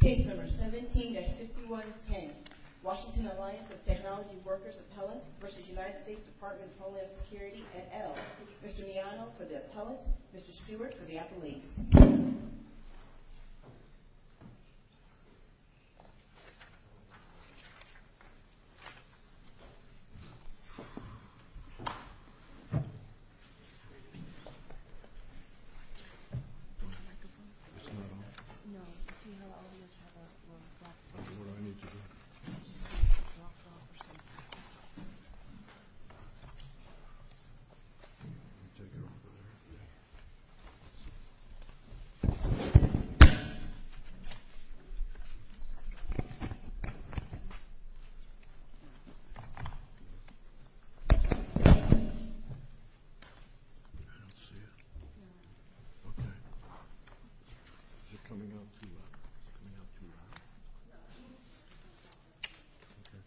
Case No. 17-5110, Washington Alliance of Technology Workers Appellant v. United States Department of Homeland Security et al. Mr. Miano for the Appellant, Mr. Stewart for the Appellees. It's not on? No, you see how all the others have a black box? I'll do what I need to do. I don't see it. No. Okay. Is it coming out too loud? Is it coming out too loud? Yeah, please. Okay.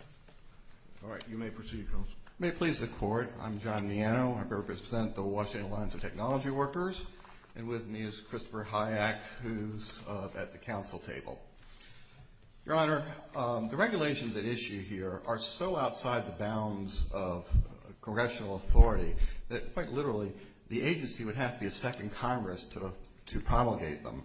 All right, you may proceed, Counsel. May it please the Court, I'm John Miano. I represent the Washington Alliance of Technology Workers. And with me is Christopher Hayek, who's at the Counsel table. Your Honor, the regulations at issue here are so outside the bounds of congressional authority that quite literally the agency would have to be a second Congress to promulgate them.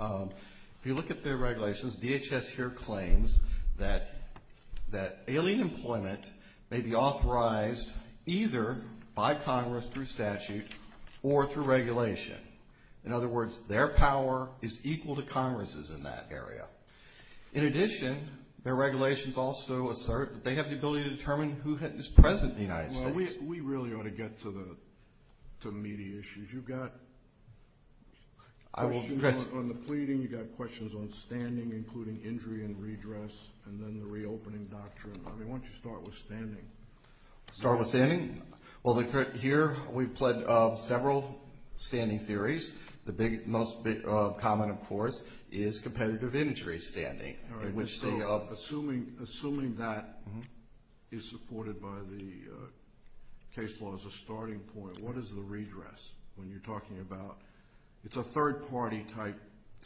If you look at their regulations, DHS here claims that alien employment may be authorized either by Congress through statute or through regulation. In other words, their power is equal to Congress's in that area. In addition, their regulations also assert that they have the ability to determine who is present in the United States. We really ought to get to the media issues. You've got questions on the pleading, you've got questions on standing, including injury and redress, and then the reopening doctrine. Why don't you start with standing? Start with standing? Well, here we've pledged several standing theories. The most common, of course, is competitive injury standing. Assuming that is supported by the case law as a starting point, what is the redress when you're talking about it's a third-party type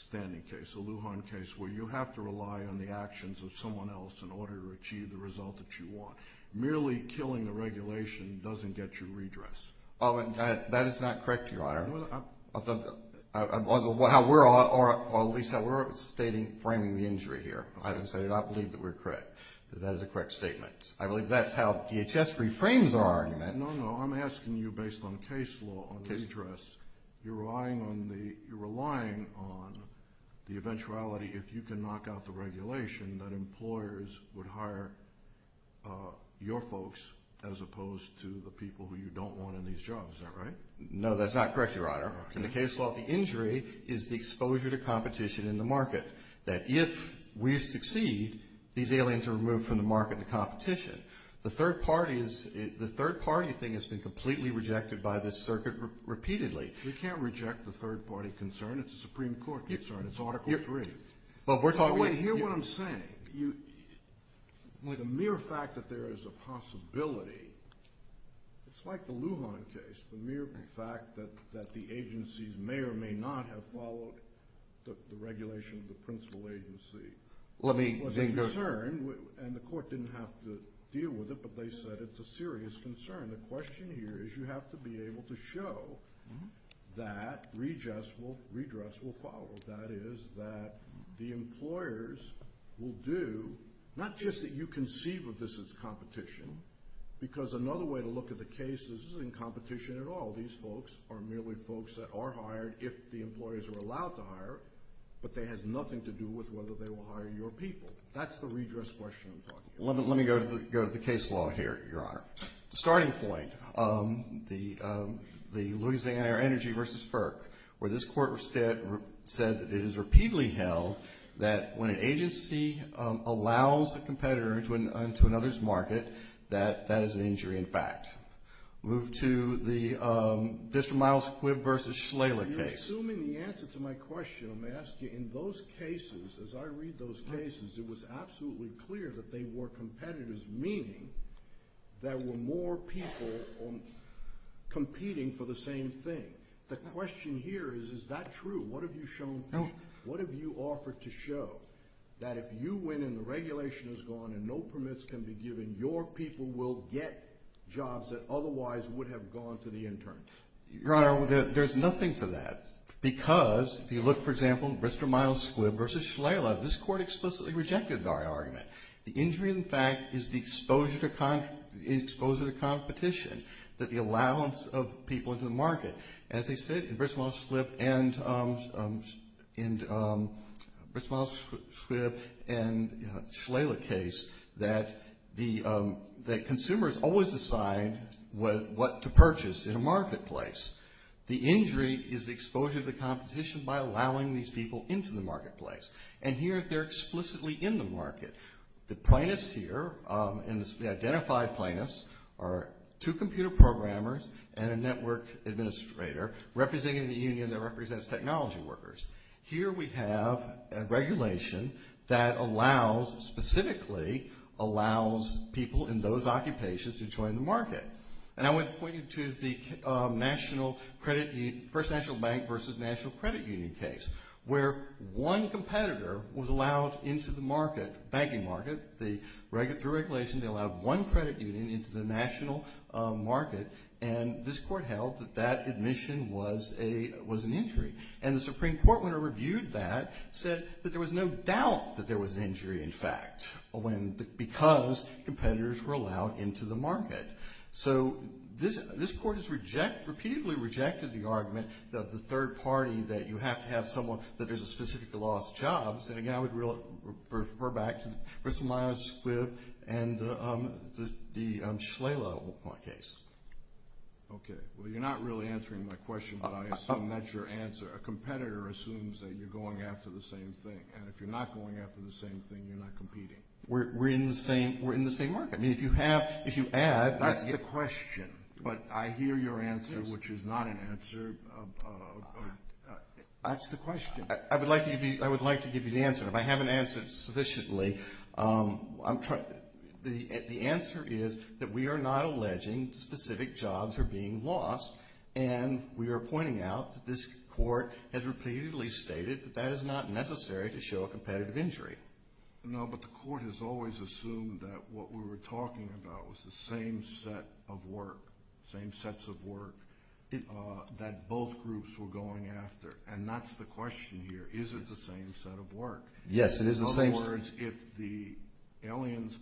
standing case, a Lujan case where you have to rely on the actions of someone else in order to achieve the result that you want. Merely killing the regulation doesn't get you redress. That is not correct, Your Honor. Or at least how we're framing the injury here. I believe that we're correct, that that is a correct statement. I believe that's how DHS reframes our argument. No, no, I'm asking you based on case law, on redress, you're relying on the eventuality, if you can knock out the regulation, that employers would hire your folks as opposed to the people who you don't want in these jobs. Is that right? No, that's not correct, Your Honor. In the case law, the injury is the exposure to competition in the market. That if we succeed, these aliens are removed from the market to competition. The third-party thing has been completely rejected by this circuit repeatedly. We can't reject the third-party concern. It's a Supreme Court concern. It's Article III. Well, we're talking... Wait, hear what I'm saying. The mere fact that there is a possibility, it's like the Lujan case. The mere fact that the agencies may or may not have followed the regulation of the principal agency was a concern, and the court didn't have to deal with it, but they said it's a serious concern. The question here is you have to be able to show that redress will follow. That is that the employers will do, not just that you conceive of this as competition, because another way to look at the case is this isn't competition at all. These folks are merely folks that are hired if the employers are allowed to hire, but it has nothing to do with whether they will hire your people. That's the redress question I'm talking about. Let me go to the case law here, Your Honor. The starting point, the Louisiana Energy v. FERC, where this court said that it is repeatedly held that when an agency allows a competitor into another's market, that that is an injury in fact. Move to the District of Miles-Quibb v. Schleyler case. You're assuming the answer to my question. Let me ask you, in those cases, as I read those cases, it was absolutely clear that they were competitors, meaning there were more people competing for the same thing. The question here is, is that true? What have you shown? What have you offered to show that if you win and the regulation is gone and no permits can be given, your people will get jobs that otherwise would have gone to the intern? Your Honor, there's nothing to that because if you look, for example, Bristol-Miles-Quibb v. Schleyler, this court explicitly rejected our argument. The injury, in fact, is the exposure to competition that the allowance of people into the market. As they said in Bristol-Miles-Quibb v. Schleyler case, that consumers always decide what to purchase in a marketplace. The injury is the exposure to competition by allowing these people into the marketplace. And here they're explicitly in the market. The plaintiffs here, and the identified plaintiffs, are two computer programmers and a network administrator representing the union that represents technology workers. Here we have a regulation that allows, specifically allows, people in those occupations to join the market. And I would point you to the First National Bank v. National Credit Union case, where one competitor was allowed into the market, banking market. Through regulation, they allowed one credit union into the national market, and this court held that that admission was an injury. And the Supreme Court, when it reviewed that, said that there was no doubt that there was an injury, in fact, because competitors were allowed into the market. So this court has repeatedly rejected the argument that the third party, that you have to have someone that there's a specific loss of jobs. And, again, I would refer back to Bristol-Miles-Quibb and the Schleyler case. Okay. Well, you're not really answering my question, but I assume that's your answer. A competitor assumes that you're going after the same thing, and if you're not going after the same thing, you're not competing. We're in the same market. That's the question, but I hear your answer, which is not an answer. That's the question. I would like to give you the answer. If I haven't answered it sufficiently, the answer is that we are not alleging specific jobs are being lost, and we are pointing out that this court has repeatedly stated that that is not necessary to show a competitive injury. No, but the court has always assumed that what we were talking about was the same set of work, same sets of work that both groups were going after, and that's the question here. Is it the same set of work? Yes, it is the same set of work. In other words, if the aliens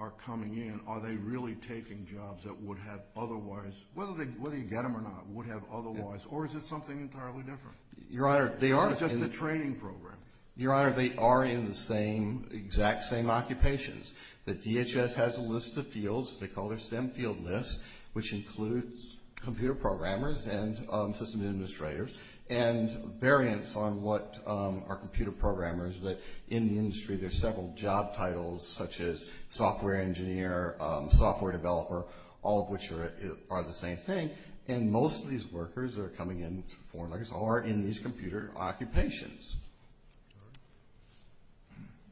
are coming in, are they really taking jobs that would have otherwise, whether you get them or not, would have otherwise, or is it something entirely different? Your Honor, they are. It's just a training program. Your Honor, they are in the same, exact same occupations. The DHS has a list of fields. They call their STEM field list, which includes computer programmers and system administrators and variants on what are computer programmers, that in the industry there's several job titles, such as software engineer, software developer, all of which are the same thing, and most of these workers that are coming in, foreign workers, are in these computer occupations.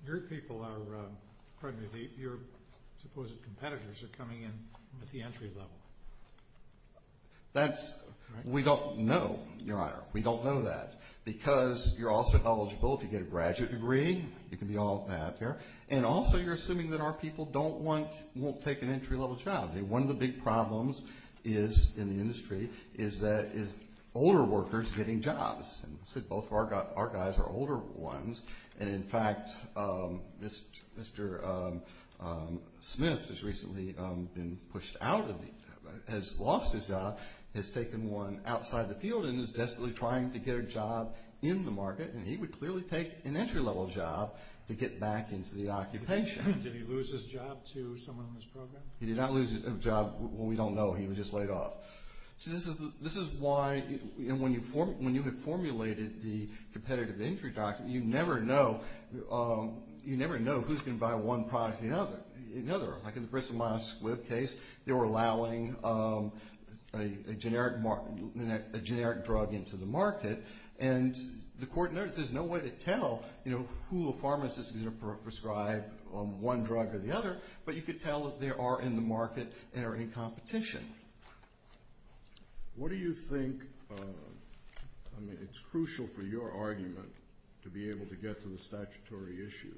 Your people are, pardon me, your supposed competitors are coming in at the entry level. That's, we don't know, Your Honor. We don't know that because you're also eligible to get a graduate degree. You can be all that there, and also you're assuming that our people don't want, won't take an entry level job. One of the big problems is, in the industry, is that is older workers getting jobs. Both of our guys are older ones, and in fact, Mr. Smith has recently been pushed out of the, has lost his job, has taken one outside the field and is desperately trying to get a job in the market, and he would clearly take an entry level job to get back into the occupation. Did he lose his job to someone in this program? He did not lose a job. We don't know. He was just laid off. So this is why, when you have formulated the competitive entry document, you never know who's going to buy one product or another. Like in the Bristol-Myers Squibb case, they were allowing a generic drug into the market, and the court noticed there's no way to tell who a pharmacist is going to prescribe one drug or the other, but you could tell if they are in the market and are in competition. What do you think, I mean, it's crucial for your argument to be able to get to the statutory issue,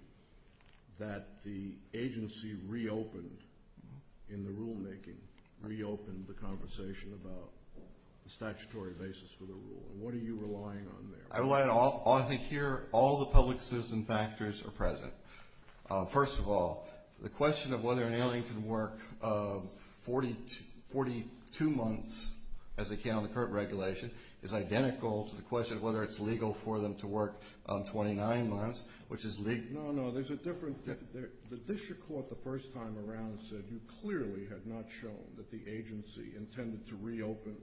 that the agency reopened in the rulemaking, reopened the conversation about the statutory basis for the rule. What are you relying on there? I think here all the public citizen factors are present. First of all, the question of whether an alien can work 42 months as they can on the current regulation is identical to the question of whether it's legal for them to work 29 months, which is legal. No, no, there's a difference. The district court the first time around said you clearly had not shown that the agency intended to reopen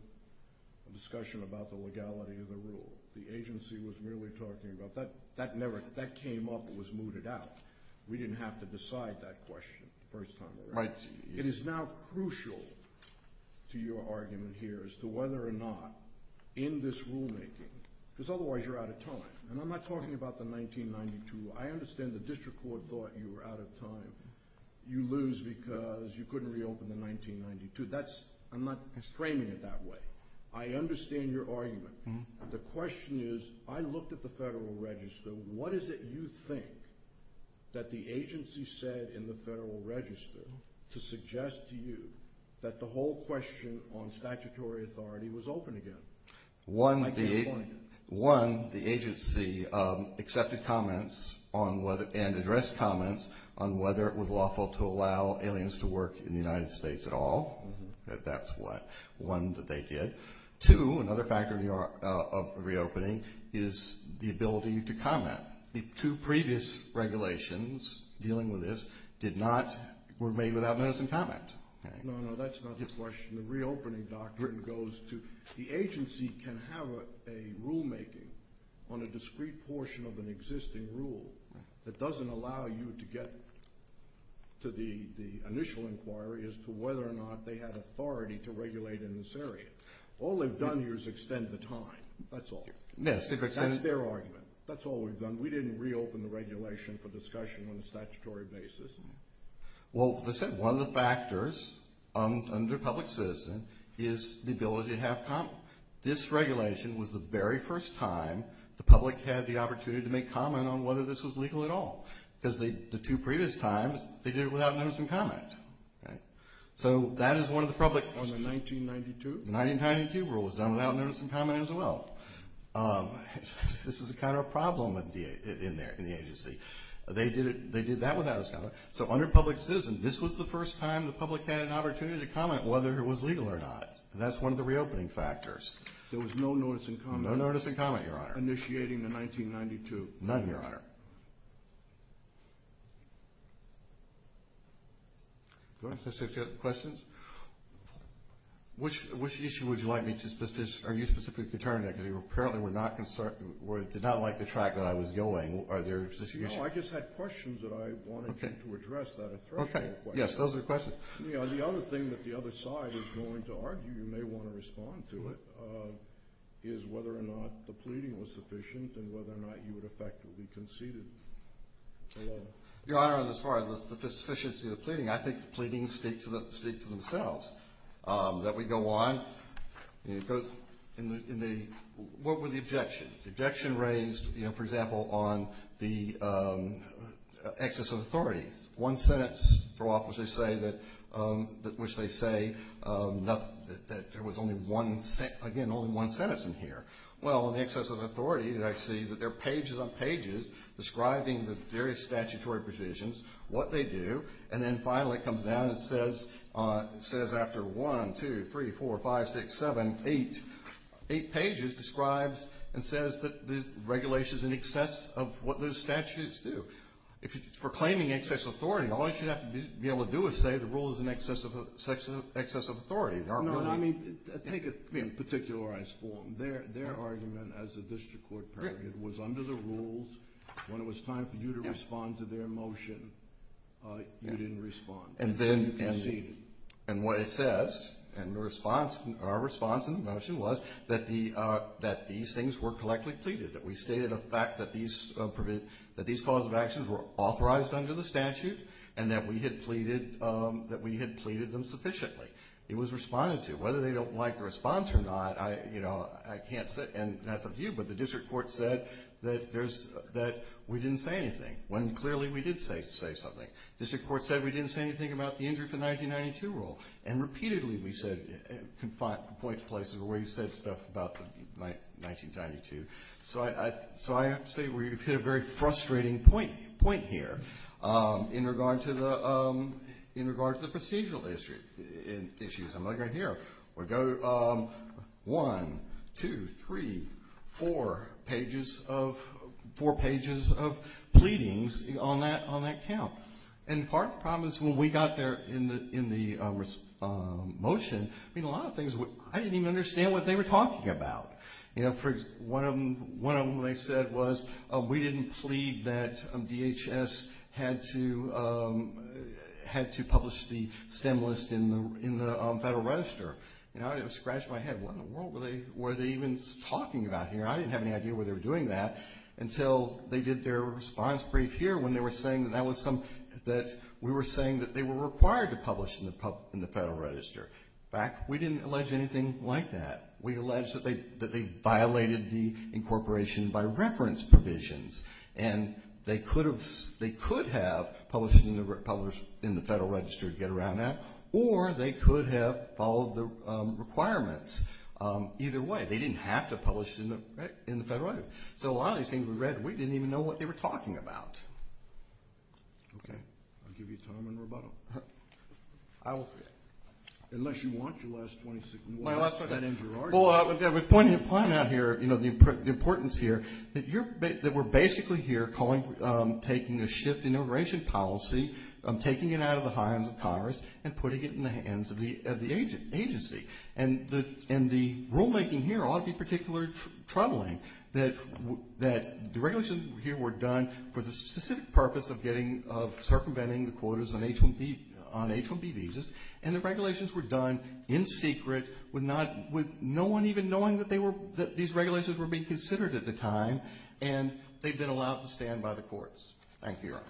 a discussion about the legality of the rule. The agency was merely talking about that. That came up and was mooted out. We didn't have to decide that question the first time around. It is now crucial to your argument here as to whether or not in this rulemaking, because otherwise you're out of time, and I'm not talking about the 1992. I understand the district court thought you were out of time. You lose because you couldn't reopen in 1992. I'm not framing it that way. I understand your argument. The question is I looked at the Federal Register. What is it you think that the agency said in the Federal Register to suggest to you that the whole question on statutory authority was open again? One, the agency accepted comments and addressed comments on whether it was lawful to allow aliens to work in the United States at all. That's one that they did. Two, another factor of reopening is the ability to comment. The two previous regulations dealing with this were made without notice and comment. No, no, that's not the question. The reopening doctrine goes to the agency can have a rulemaking on a discrete portion of an existing rule that doesn't allow you to get to the initial inquiry as to whether or not they had authority to regulate in this area. All they've done here is extend the time. That's all. That's their argument. That's all we've done. We didn't reopen the regulation for discussion on a statutory basis. Well, they said one of the factors under public citizen is the ability to have comment. This regulation was the very first time the public had the opportunity to make comment on whether this was legal at all because the two previous times they did it without notice and comment. So that is one of the public questions. On the 1992? The 1992 rule was done without notice and comment as well. This is kind of a problem in the agency. They did that without a comment. So under public citizen, this was the first time the public had an opportunity to comment whether it was legal or not, and that's one of the reopening factors. There was no notice and comment. No notice and comment, Your Honor. Initiating the 1992. None, Your Honor. Questions? Which issue would you like me to specify? Are you specifically determining that because you apparently did not like the track that I was going? Are there specific issues? No, I just had questions that I wanted you to address that are threshold questions. Okay. Yes, those are questions. The other thing that the other side is going to argue, you may want to respond to it, is whether or not the pleading was sufficient and whether or not you would effectively conceded the law. Your Honor, as far as the sufficiency of the pleading, I think the pleadings speak to themselves. That would go on. It goes in the, what were the objections? The objection raised, you know, for example, on the excess of authority. One sentence threw off, which they say, that there was only one, again, only one sentence in here. Well, in the excess of authority, I see that there are pages on pages describing the various statutory provisions, what they do, and then finally it comes down and says after one, two, three, four, five, six, seven, eight, eight pages describes and says that the regulation is in excess of what those statutes do. For claiming excess authority, all you should have to be able to do is say the rule is in excess of authority. No, I mean, take a particularized form. Their argument as a district court period was under the rules. When it was time for you to respond to their motion, you didn't respond. You conceded. And what it says, and our response in the motion was that these things were collectively pleaded, that we stated a fact that these cause of actions were authorized under the statute and that we had pleaded them sufficiently. It was responded to. Whether they don't like the response or not, I can't say, and that's up to you, but the district court said that we didn't say anything when clearly we did say something. The district court said we didn't say anything about the injury for the 1992 rule, and repeatedly we said, point to places where you said stuff about 1992. So I have to say we've hit a very frustrating point here in regard to the procedural issues. I'm not going to go one, two, three, four pages of pleadings on that count. And part of the problem is when we got there in the motion, I mean, a lot of things, I didn't even understand what they were talking about. You know, for example, one of them they said was, we didn't plead that DHS had to publish the STEM list in the Federal Register. You know, it scratched my head, what in the world were they even talking about here? I didn't have any idea why they were doing that until they did their response brief here when they were saying that we were saying that they were required to publish in the Federal Register. In fact, we didn't allege anything like that. We allege that they violated the incorporation by reference provisions, and they could have published it in the Federal Register to get around that, or they could have followed the requirements. Either way, they didn't have to publish it in the Federal Register. So a lot of these things we read, we didn't even know what they were talking about. Okay. I'll give you time and rebuttal. I will forget. Unless you want your last 26 minutes. Well, I was pointing out here, you know, the importance here, that we're basically here taking a shift in immigration policy, taking it out of the hands of Congress, and putting it in the hands of the agency. And the rulemaking here ought to be particularly troubling, that the regulations here were done for the specific purpose of circumventing the quotas on H-1B visas, and the regulations were done in secret, with no one even knowing that these regulations were being considered at the time, and they've been allowed to stand by the courts. Thank you, Your Honor.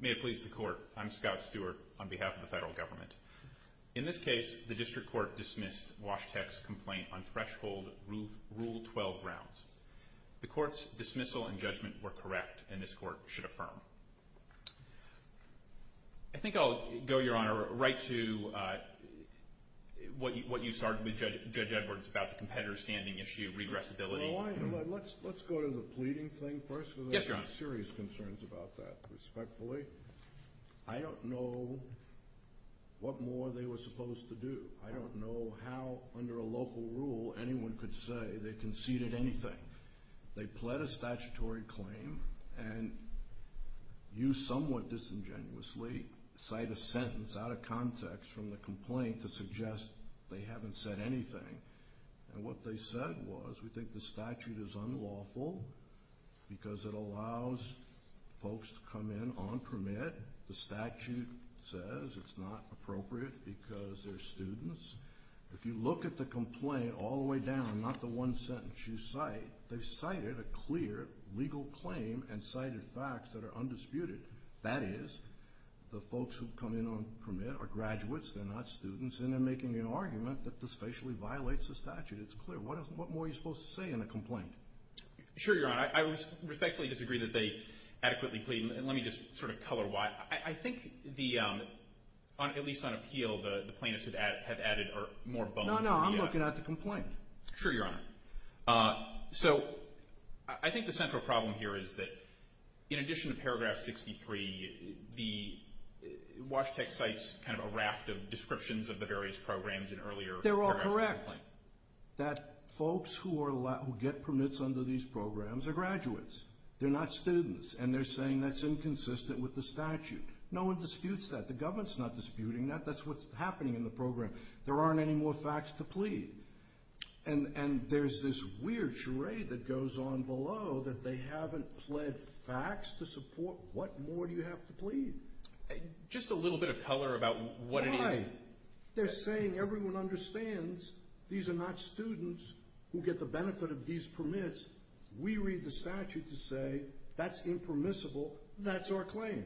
May it please the Court. I'm Scott Stewart on behalf of the Federal Government. In this case, the District Court dismissed Washtek's complaint on threshold Rule 12 grounds. The Court's dismissal and judgment were correct, and this Court should affirm. I think I'll go, Your Honor, right to what you started with Judge Edwards about the competitor standing issue, regressibility. Let's go to the pleading thing first. Yes, Your Honor. Because I have serious concerns about that, respectfully. I don't know what more they were supposed to do. I don't know how, under a local rule, anyone could say they conceded anything. They pled a statutory claim, and you somewhat disingenuously cite a sentence out of context from the complaint to suggest they haven't said anything. And what they said was, we think the statute is unlawful because it allows folks to come in on permit. The statute says it's not appropriate because they're students. If you look at the complaint all the way down, not the one sentence you cite, they've cited a clear legal claim and cited facts that are undisputed. That is, the folks who come in on permit are graduates, they're not students, and they're making an argument that this facially violates the statute. It's clear. What more are you supposed to say in a complaint? Sure, Your Honor. I respectfully disagree that they adequately plead. And let me just sort of color-wide. I think, at least on appeal, the plaintiffs have added more bone to the media. No, no, I'm looking at the complaint. Sure, Your Honor. So I think the central problem here is that, in addition to Paragraph 63, the Washteck cites kind of a raft of descriptions of the various programs in earlier paragraphs of the complaint. They're all correct that folks who get permits under these programs are graduates. They're not students, and they're saying that's inconsistent with the statute. No one disputes that. The government's not disputing that. That's what's happening in the program. There aren't any more facts to plead. And there's this weird charade that goes on below that they haven't pled facts to support. What more do you have to plead? Just a little bit of color about what it is. Why? They're saying everyone understands these are not students who get the benefit of these permits. We read the statute to say that's impermissible. That's our claim.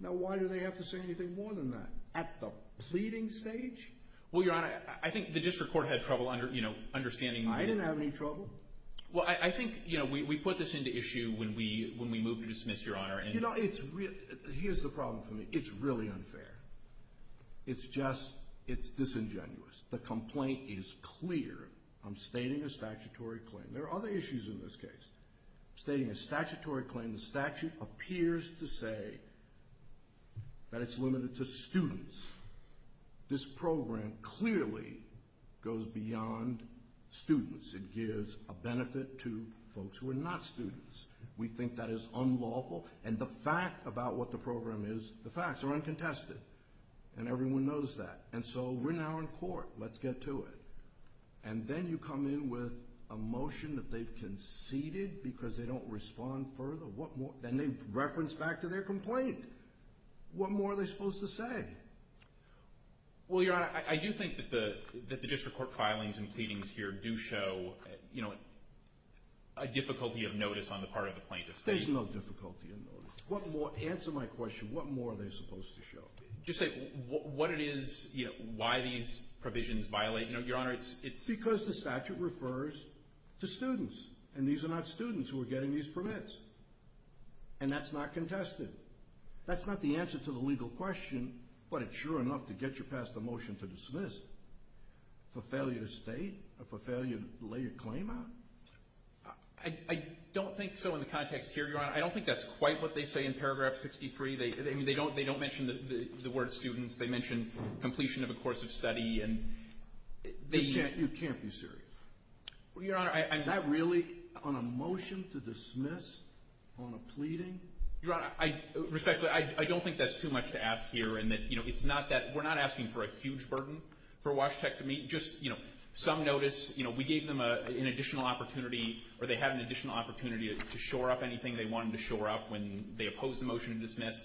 Now why do they have to say anything more than that? At the pleading stage? Well, Your Honor, I think the district court had trouble understanding. I didn't have any trouble. Well, I think we put this into issue when we moved to dismiss, Your Honor. Here's the problem for me. It's really unfair. It's disingenuous. The complaint is clear. I'm stating a statutory claim. There are other issues in this case. I'm stating a statutory claim. The statute appears to say that it's limited to students. This program clearly goes beyond students. It gives a benefit to folks who are not students. We think that is unlawful. And the fact about what the program is, the facts are uncontested. And everyone knows that. And so we're now in court. Let's get to it. And then you come in with a motion that they've conceded because they don't respond further. Then they reference back to their complaint. What more are they supposed to say? Well, Your Honor, I do think that the district court filings and pleadings here do show a difficulty of notice on the part of the plaintiffs. There's no difficulty of notice. Answer my question. What more are they supposed to show? Just say what it is, why these provisions violate. Your Honor, it's because the statute refers to students. And these are not students who are getting these permits. And that's not contested. That's not the answer to the legal question, but it's sure enough to get you past the motion to dismiss. For failure to state or for failure to lay your claim on? I don't think so in the context here, Your Honor. I don't think that's quite what they say in paragraph 63. They don't mention the word students. They mention completion of a course of study. You can't be serious. Well, Your Honor, I'm not. Is that really on a motion to dismiss on a pleading? Your Honor, respectfully, I don't think that's too much to ask here. And, you know, it's not that we're not asking for a huge burden for WASHTEC to meet. Just, you know, some notice, you know, we gave them an additional opportunity or they had an additional opportunity to shore up anything they wanted to shore up when they opposed the motion to dismiss.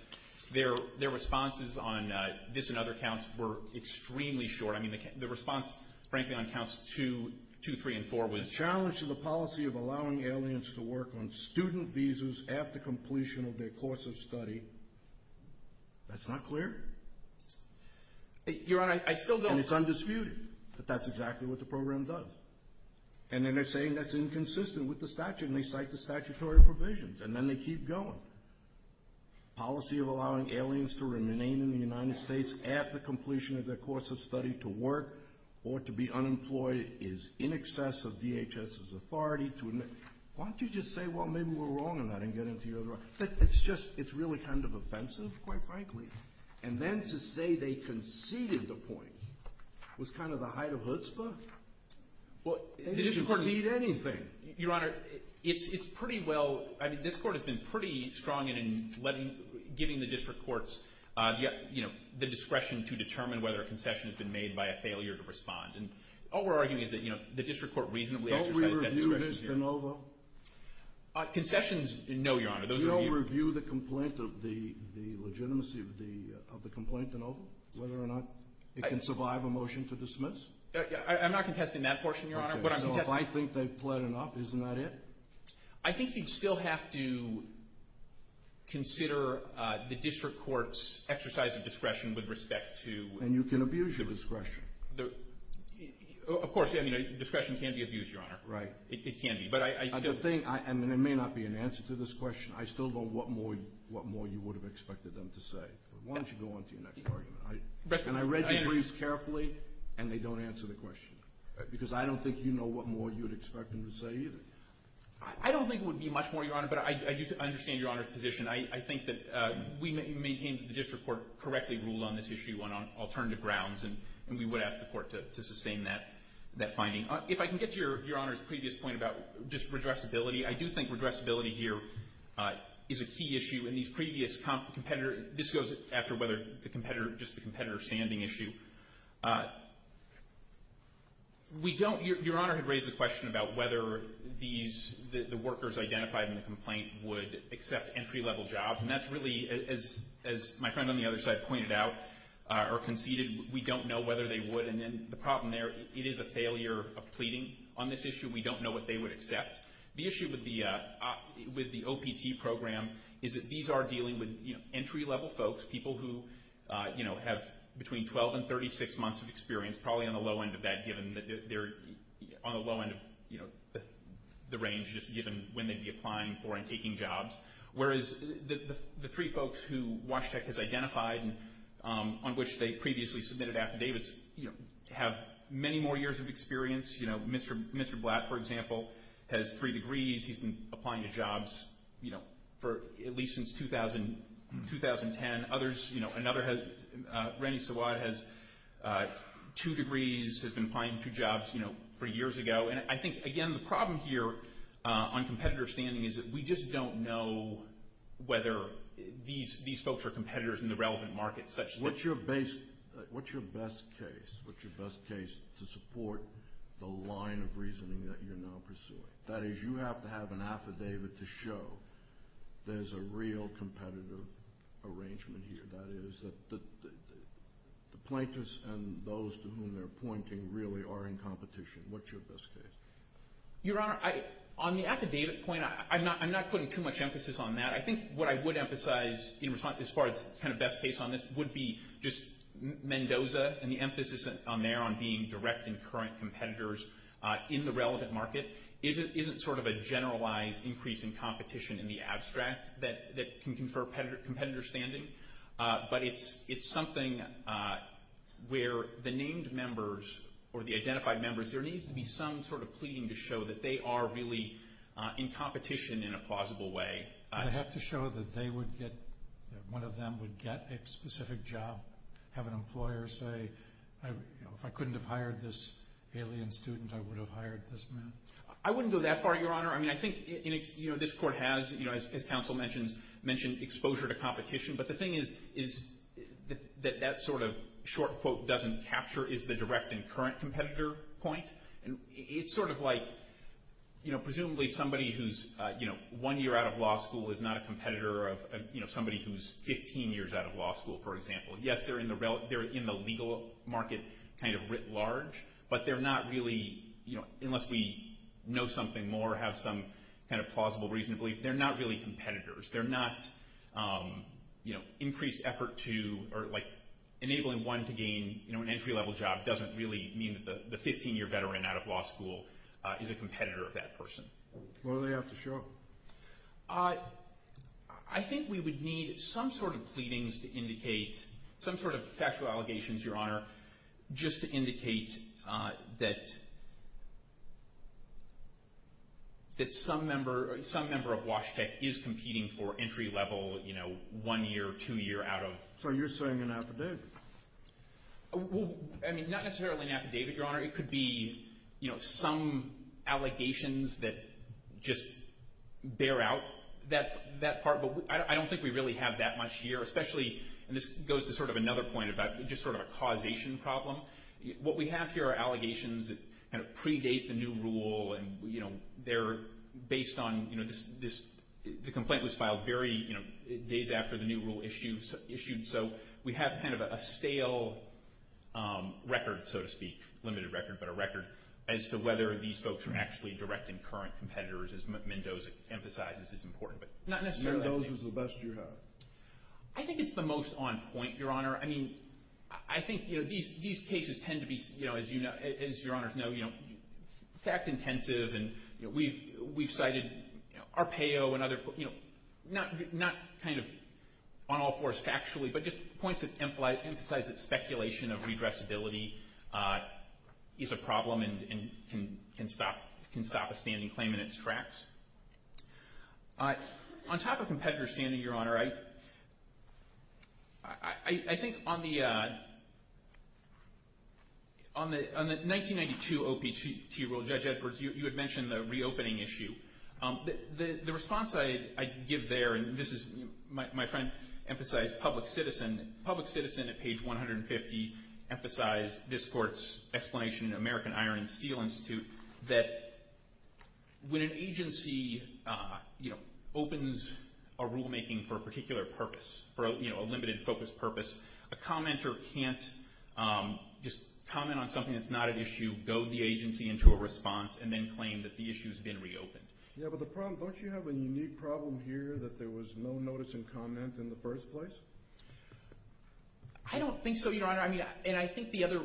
Their responses on this and other counts were extremely short. I mean, the response, frankly, on counts 2, 3, and 4 was. The challenge to the policy of allowing aliens to work on student visas after completion of their course of study, that's not clear. Your Honor, I still don't. And it's undisputed that that's exactly what the program does. And then they're saying that's inconsistent with the statute, and they cite the statutory provisions, and then they keep going. Policy of allowing aliens to remain in the United States after completion of their course of study to work or to be unemployed is in excess of DHS's authority to admit. Why don't you just say, well, maybe we're wrong on that and get into your other argument. It's just, it's really kind of offensive, quite frankly. And then to say they conceded the point was kind of the height of chutzpah. They didn't concede anything. Your Honor, it's pretty well. I mean, this Court has been pretty strong in giving the district courts, you know, the discretion to determine whether a concession has been made by a failure to respond. And all we're arguing is that, you know, the district court reasonably exercised that discretion. Don't we review this de novo? Concessions, no, Your Honor. You don't review the complaint of the legitimacy of the complaint de novo, whether or not it can survive a motion to dismiss? I'm not contesting that portion, Your Honor. So if I think they've pled enough, isn't that it? I think you'd still have to consider the district court's exercise of discretion with respect to... And you can abuse your discretion. Of course, I mean, discretion can be abused, Your Honor. Right. It can be, but I still... And the thing, I mean, there may not be an answer to this question. I still don't know what more you would have expected them to say. Why don't you go on to your next argument? And I read your briefs carefully, and they don't answer the question. Because I don't think you know what more you would expect them to say either. I don't think it would be much more, Your Honor, but I do understand Your Honor's position. I think that we maintain that the district court correctly ruled on this issue on alternative grounds, and we would ask the court to sustain that finding. If I can get to Your Honor's previous point about just redressability, I do think redressability here is a key issue in these previous competitors. This goes after whether the competitor, just the competitor standing issue. We don't... Your Honor had raised the question about whether the workers identified in the complaint would accept entry-level jobs, and that's really, as my friend on the other side pointed out or conceded, we don't know whether they would. And then the problem there, it is a failure of pleading on this issue. We don't know what they would accept. The issue with the OPT program is that these are dealing with entry-level folks, people who have between 12 and 36 months of experience, probably on the low end of that, given that they're on the low end of the range, just given when they'd be applying for and taking jobs. Whereas the three folks who WASHTEC has identified and on which they previously submitted affidavits have many more years of experience. You know, Mr. Blatt, for example, has three degrees. He's been applying to jobs, you know, for at least since 2010. Others, you know, another has... Randy Sawad has two degrees, has been applying to jobs, you know, for years ago. And I think, again, the problem here on competitor standing is that we just don't know whether these folks are competitors in the relevant markets. What's your best case to support the line of reasoning that you're now pursuing? That is, you have to have an affidavit to show there's a real competitive arrangement here. That is, the plaintiffs and those to whom they're pointing really are in competition. What's your best case? Your Honor, on the affidavit point, I'm not putting too much emphasis on that. I think what I would emphasize as far as kind of best case on this would be just Mendoza and the emphasis on there on being direct and current competitors in the relevant market isn't sort of a generalized increase in competition in the abstract that can confer competitor standing, but it's something where the named members or the identified members, there needs to be some sort of pleading to show that they are really in competition in a plausible way. They have to show that one of them would get a specific job, have an employer say, if I couldn't have hired this alien student, I would have hired this man. I wouldn't go that far, Your Honor. I mean, I think this Court has, as counsel mentioned, exposure to competition. But the thing is that that sort of short quote doesn't capture is the direct and current competitor point. It's sort of like presumably somebody who's one year out of law school is not a competitor of somebody who's 15 years out of law school, for example. Yes, they're in the legal market kind of writ large, but they're not really, unless we know something more, have some kind of plausible reason to believe, they're not really competitors. They're not, you know, increased effort to, or like enabling one to gain, you know, an entry-level job doesn't really mean that the 15-year veteran out of law school is a competitor of that person. What do they have to show? I think we would need some sort of pleadings to indicate, some sort of factual allegations, Your Honor, just to indicate that some member of Wash Tech is competing for entry-level, you know, one-year, two-year out of. So you're saying an affidavit? Well, I mean, not necessarily an affidavit, Your Honor. It could be, you know, some allegations that just bear out that part. But I don't think we really have that much here, especially, and this goes to sort of another point about just sort of a causation problem. What we have here are allegations that kind of predate the new rule, and, you know, they're based on, you know, the complaint was filed very, you know, days after the new rule issued. So we have kind of a stale record, so to speak, limited record, but a record as to whether these folks are actually direct and current competitors, as Mendoza emphasizes is important. But not necessarily. Mendoza's the best you have. I think it's the most on point, Your Honor. I mean, I think, you know, these cases tend to be, you know, as Your Honors know, you know, fact-intensive, and we've cited Arpaio and other folks, you know, not kind of on all fours factually, but just points that emphasize that speculation of redressability is a problem and can stop a standing claim in its tracks. On top of competitor standing, Your Honor, I think on the 1992 OPT rule, Judge Edwards, you had mentioned the reopening issue. The response I give there, and this is my friend emphasized public citizen. Public citizen at page 150 emphasized this court's explanation in American Iron and Steel Institute that when an agency, you know, opens a rulemaking for a particular purpose, you know, a limited focus purpose, a commenter can't just comment on something that's not an issue, goad the agency into a response, and then claim that the issue has been reopened. Yeah, but the problem, don't you have a unique problem here that there was no notice and comment in the first place? I don't think so, Your Honor. I mean, and I think the other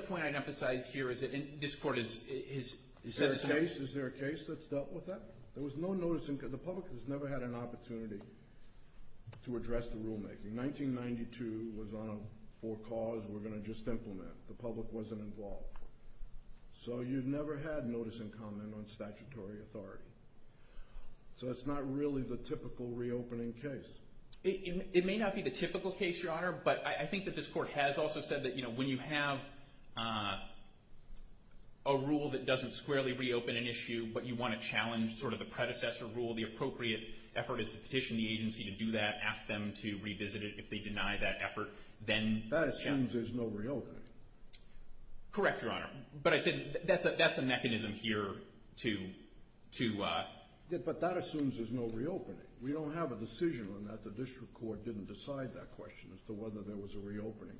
point I'd emphasize here is that this court is Is there a case that's dealt with that? There was no notice and comment. The public has never had an opportunity to address the rulemaking. 1992 was on a four cause we're going to just implement. The public wasn't involved. So you've never had notice and comment on statutory authority. So it's not really the typical reopening case. It may not be the typical case, Your Honor, but I think that this court has also said that, you know, when you have a rule that doesn't squarely reopen an issue, but you want to challenge sort of the predecessor rule, the appropriate effort is to petition the agency to do that, ask them to revisit it. If they deny that effort, then That assumes there's no reopening. Correct, Your Honor. But I said that's a mechanism here to But that assumes there's no reopening. We don't have a decision on that. The district court didn't decide that question as to whether there was a reopening,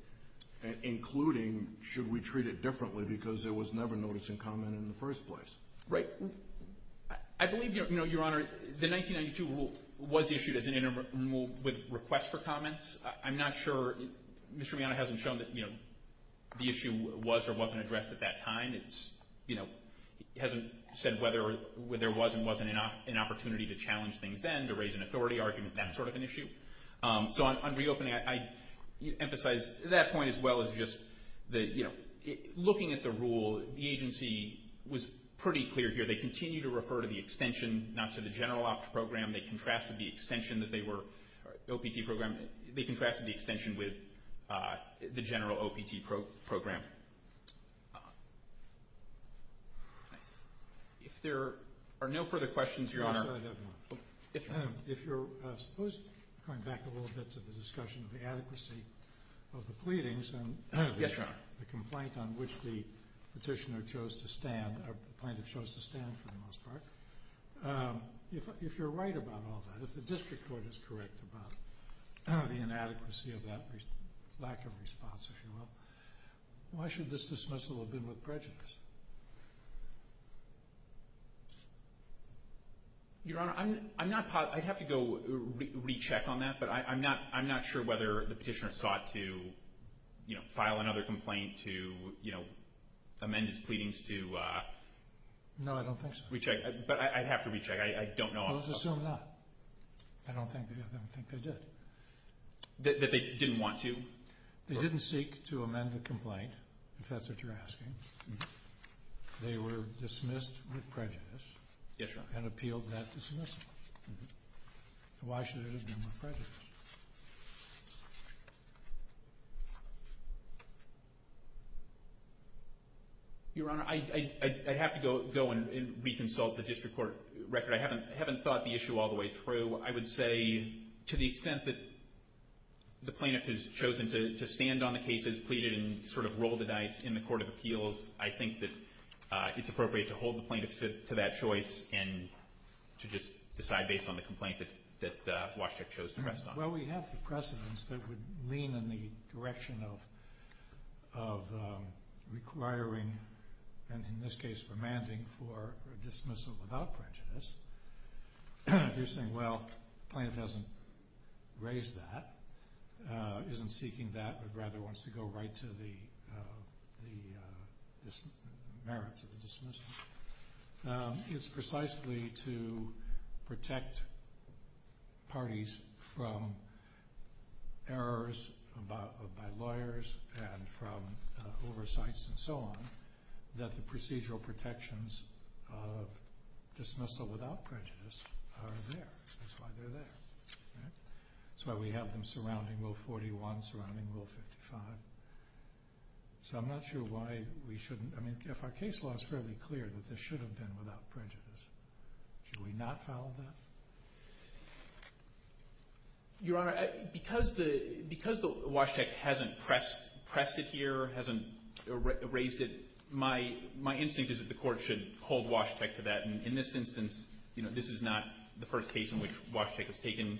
including should we treat it differently because there was never notice and comment in the first place. Right. I believe, Your Honor, the 1992 rule was issued as an interim rule with request for comments. I'm not sure. Mr. Reano hasn't shown that, you know, the issue was or wasn't addressed at that time. It's, you know, hasn't said whether there was and wasn't an opportunity to challenge things then, to raise an authority argument, that sort of an issue. So on reopening, I emphasize that point as well as just that, you know, looking at the rule, the agency was pretty clear here. They continue to refer to the extension, not to the general opt program. They contrasted the extension that they were opt program. They contrasted the extension with the general opt program. If there are no further questions, Your Honor. If you're supposed to come back a little bit to the discussion of the adequacy of the pleadings and the complaint on which the petitioner chose to stand, the plaintiff chose to stand for the most part. If you're right about all that, if the district court is correct about the inadequacy of that, lack of response, if you will, why should this dismissal have been with prejudice? Your Honor, I'm not – I'd have to go recheck on that, but I'm not sure whether the petitioner sought to, you know, file another complaint to, you know, amend his pleadings to – No, I don't think so. Recheck. But I'd have to recheck. I don't know. Let's assume not. I don't think they did. That they didn't want to? They didn't seek to amend the complaint, if that's what you're asking. They were dismissed with prejudice. Yes, Your Honor. And appealed that dismissal. Why should it have been with prejudice? Your Honor, I'd have to go and reconsult the district court record. I haven't thought the issue all the way through. I would say to the extent that the plaintiff has chosen to stand on the cases pleaded and sort of rolled the dice in the court of appeals, I think that it's appropriate to hold the plaintiff to that choice and to just decide based on the complaint that Waszczak chose to rest on. Well, we have the precedents that would lean in the direction of requiring, and in this case, remanding for a dismissal without prejudice. If you're saying, well, the plaintiff hasn't raised that, isn't seeking that, but rather wants to go right to the merits of the dismissal, it's precisely to protect parties from errors by lawyers and from oversights and so on, that the procedural protections of dismissal without prejudice are there. That's why they're there. That's why we have them surrounding Rule 41, surrounding Rule 55. So I'm not sure why we shouldn't. I mean, if our case law is fairly clear that this should have been without prejudice, should we not file that? Your Honor, because Waszczak hasn't pressed it here, hasn't raised it, my instinct is that the court should hold Waszczak to that, and in this instance, this is not the first case in which Waszczak has taken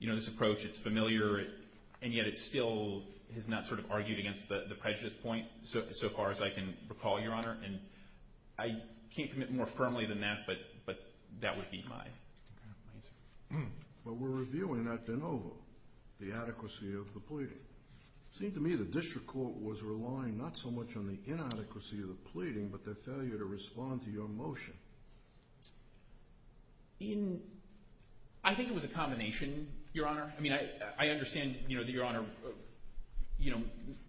this approach. It's familiar, and yet it still has not sort of argued against the prejudice point so far as I can recall, Your Honor. And I can't commit more firmly than that, but that would be my answer. Well, we're reviewing that de novo, the adequacy of the pleading. It seemed to me the district court was relying not so much on the inadequacy of the pleading but their failure to respond to your motion. I think it was a combination, Your Honor. I mean, I understand that Your Honor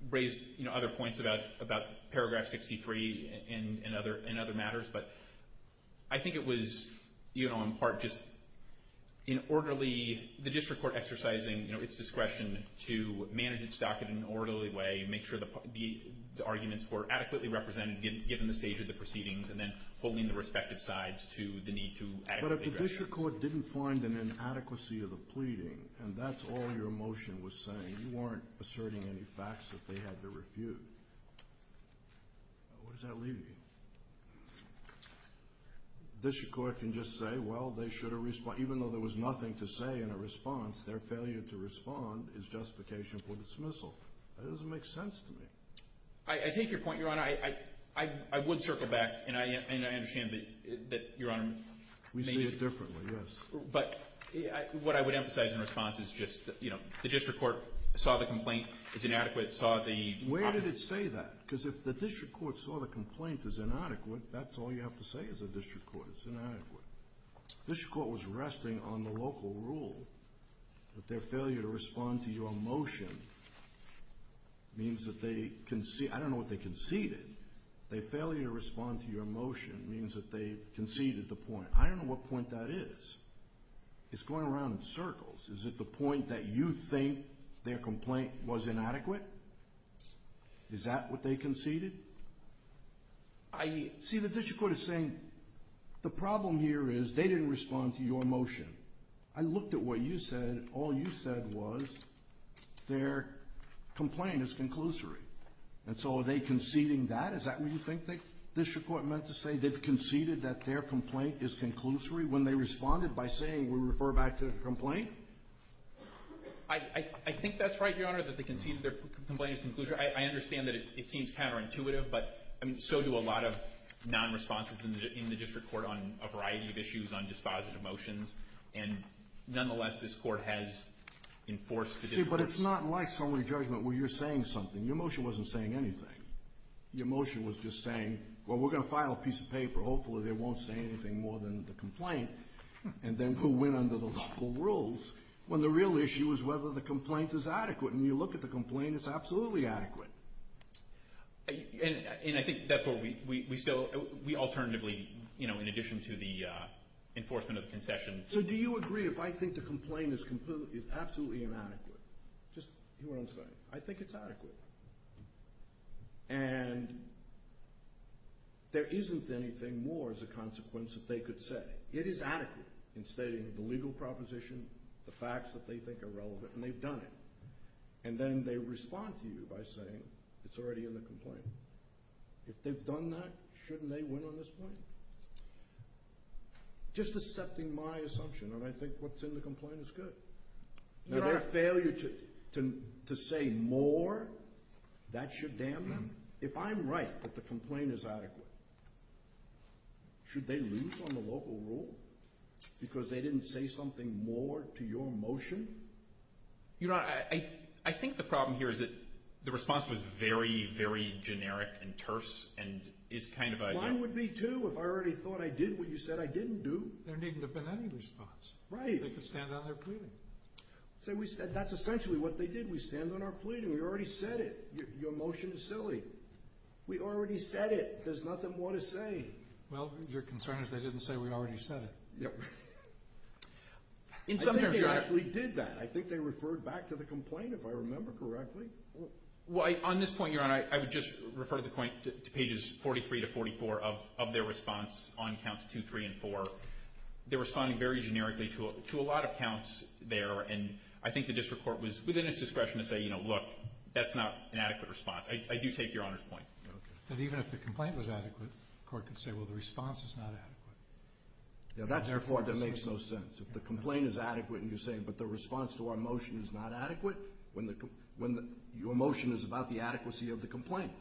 raised other points about paragraph 63 and other matters, but I think it was in part just the district court exercising its discretion to manage its docket in an orderly way and make sure the arguments were adequately represented given the stage of the proceedings and then holding the respective sides to the need to adequately address those. But if the district court didn't find an inadequacy of the pleading, and that's all your motion was saying, you weren't asserting any facts that they had to refute. Where does that leave me? The district court can just say, well, they should have responded. Even though there was nothing to say in a response, their failure to respond is justification for dismissal. That doesn't make sense to me. I take your point, Your Honor. I would circle back, and I understand that Your Honor may disagree. We see it differently, yes. But what I would emphasize in response is just, you know, the district court saw the complaint as inadequate. Where did it say that? Because if the district court saw the complaint as inadequate, that's all you have to say as a district court. It's inadequate. The district court was resting on the local rule, but their failure to respond to your motion means that they conceded. I don't know what they conceded. Their failure to respond to your motion means that they conceded the point. I don't know what point that is. It's going around in circles. Is it the point that you think their complaint was inadequate? Is that what they conceded? See, the district court is saying the problem here is they didn't respond to your motion. I looked at what you said. All you said was their complaint is conclusory. And so are they conceding that? Is that what you think the district court meant to say? They conceded that their complaint is conclusory when they responded by saying, we refer back to the complaint? I think that's right, Your Honor, that they conceded their complaint is conclusory. I understand that it seems counterintuitive, but so do a lot of non-responses in the district court on a variety of issues, on dispositive motions. And nonetheless, this Court has enforced the district court. See, but it's not like summary judgment where you're saying something. Your motion wasn't saying anything. Your motion was just saying, well, we're going to file a piece of paper. Hopefully they won't say anything more than the complaint, and then who went under the local rules, when the real issue is whether the complaint is adequate. And you look at the complaint, it's absolutely adequate. And I think that's what we still, we alternatively, in addition to the enforcement of the concession. So do you agree if I think the complaint is absolutely inadequate? Just hear what I'm saying. I think it's adequate. And there isn't anything more as a consequence that they could say. It is adequate in stating the legal proposition, the facts that they think are relevant, and they've done it. And then they respond to you by saying it's already in the complaint. If they've done that, shouldn't they win on this point? Just accepting my assumption, and I think what's in the complaint is good. Now, their failure to say more, that should damn them. If I'm right that the complaint is adequate, should they lose on the local rule? Because they didn't say something more to your motion? Your Honor, I think the problem here is that the response was very, very generic and terse and is kind of a— Mine would be too if I already thought I did what you said I didn't do. There needn't have been any response. Right. They could stand on their pleading. That's essentially what they did. We stand on our pleading. We already said it. Your motion is silly. We already said it. There's nothing more to say. Well, your concern is they didn't say we already said it. Yep. I think they actually did that. I think they referred back to the complaint, if I remember correctly. Well, on this point, Your Honor, I would just refer the point to pages 43 to 44 of their response on counts 2, 3, and 4. They're responding very generically to a lot of counts there, and I think the district court was within its discretion to say, you know, look, that's not an adequate response. I do take Your Honor's point. Okay. That even if the complaint was adequate, the court could say, well, the response is not adequate. Yeah, that's the part that makes no sense. If the complaint is adequate and you're saying, but the response to our motion is not adequate, when your motion is about the adequacy of the complaint.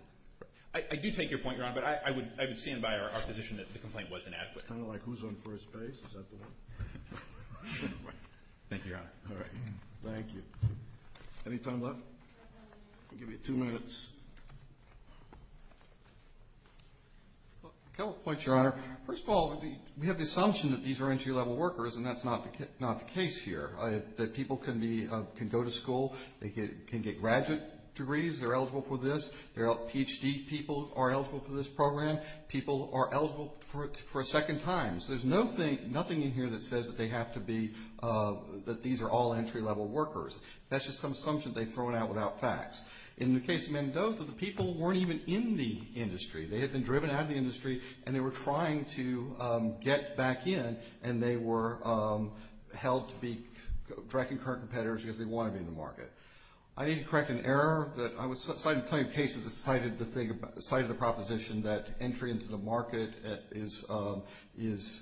I do take your point, Your Honor, but I would stand by our position that the complaint was inadequate. It's kind of like who's on first base. Is that the one? Thank you, Your Honor. All right. Thank you. Any time left? I'll give you two minutes. A couple points, Your Honor. First of all, we have the assumption that these are entry-level workers, and that's not the case here, that people can go to school. They can get graduate degrees. They're eligible for this. PhD people are eligible for this program. People are eligible for a second time. So there's nothing in here that says that these are all entry-level workers. That's just some assumption they've thrown out without facts. In the case of Mendoza, the people weren't even in the industry. They had been driven out of the industry, and they were trying to get back in, and they were held to be directing current competitors because they wanted to be in the market. I need to correct an error. I was citing plenty of cases that cited the proposition that entry into the market is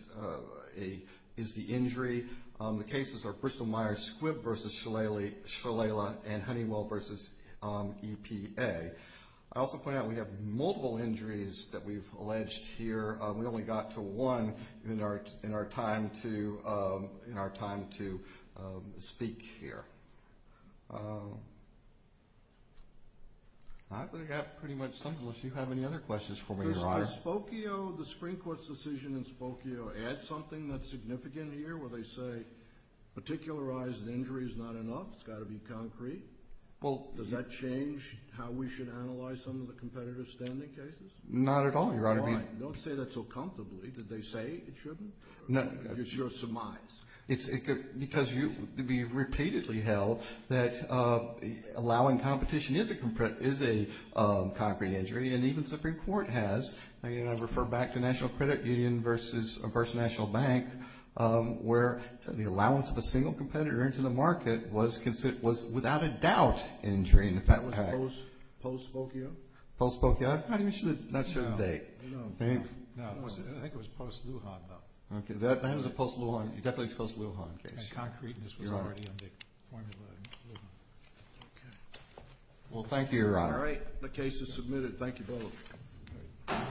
the injury. The cases are Bristol-Myers Squibb v. Shalala and Honeywell v. EPA. I also point out we have multiple injuries that we've alleged here. We only got to one in our time to speak here. I think that pretty much sums it up. Do you have any other questions for me, Your Honor? Does the Spokio, the Supreme Court's decision in Spokio, add something that's significant here? Where they say particularized injury is not enough. It's got to be concrete. Does that change how we should analyze some of the competitive standing cases? Not at all, Your Honor. You're right. Don't say that so comfortably. Did they say it shouldn't? It's your surmise. Because it could be repeatedly held that allowing competition is a concrete injury, and even the Supreme Court has. I refer back to National Credit Union v. National Bank, where the allowance of a single competitor into the market was without a doubt injury. And that was post-Spokio? Post-Spokio? I'm not sure of the date. I think it was post-Lujan, though. That was a post-Lujan. It definitely was a post-Lujan case. And concrete, and this was already on the formula in Lujan. Well, thank you, Your Honor. All right. The case is submitted. Thank you both.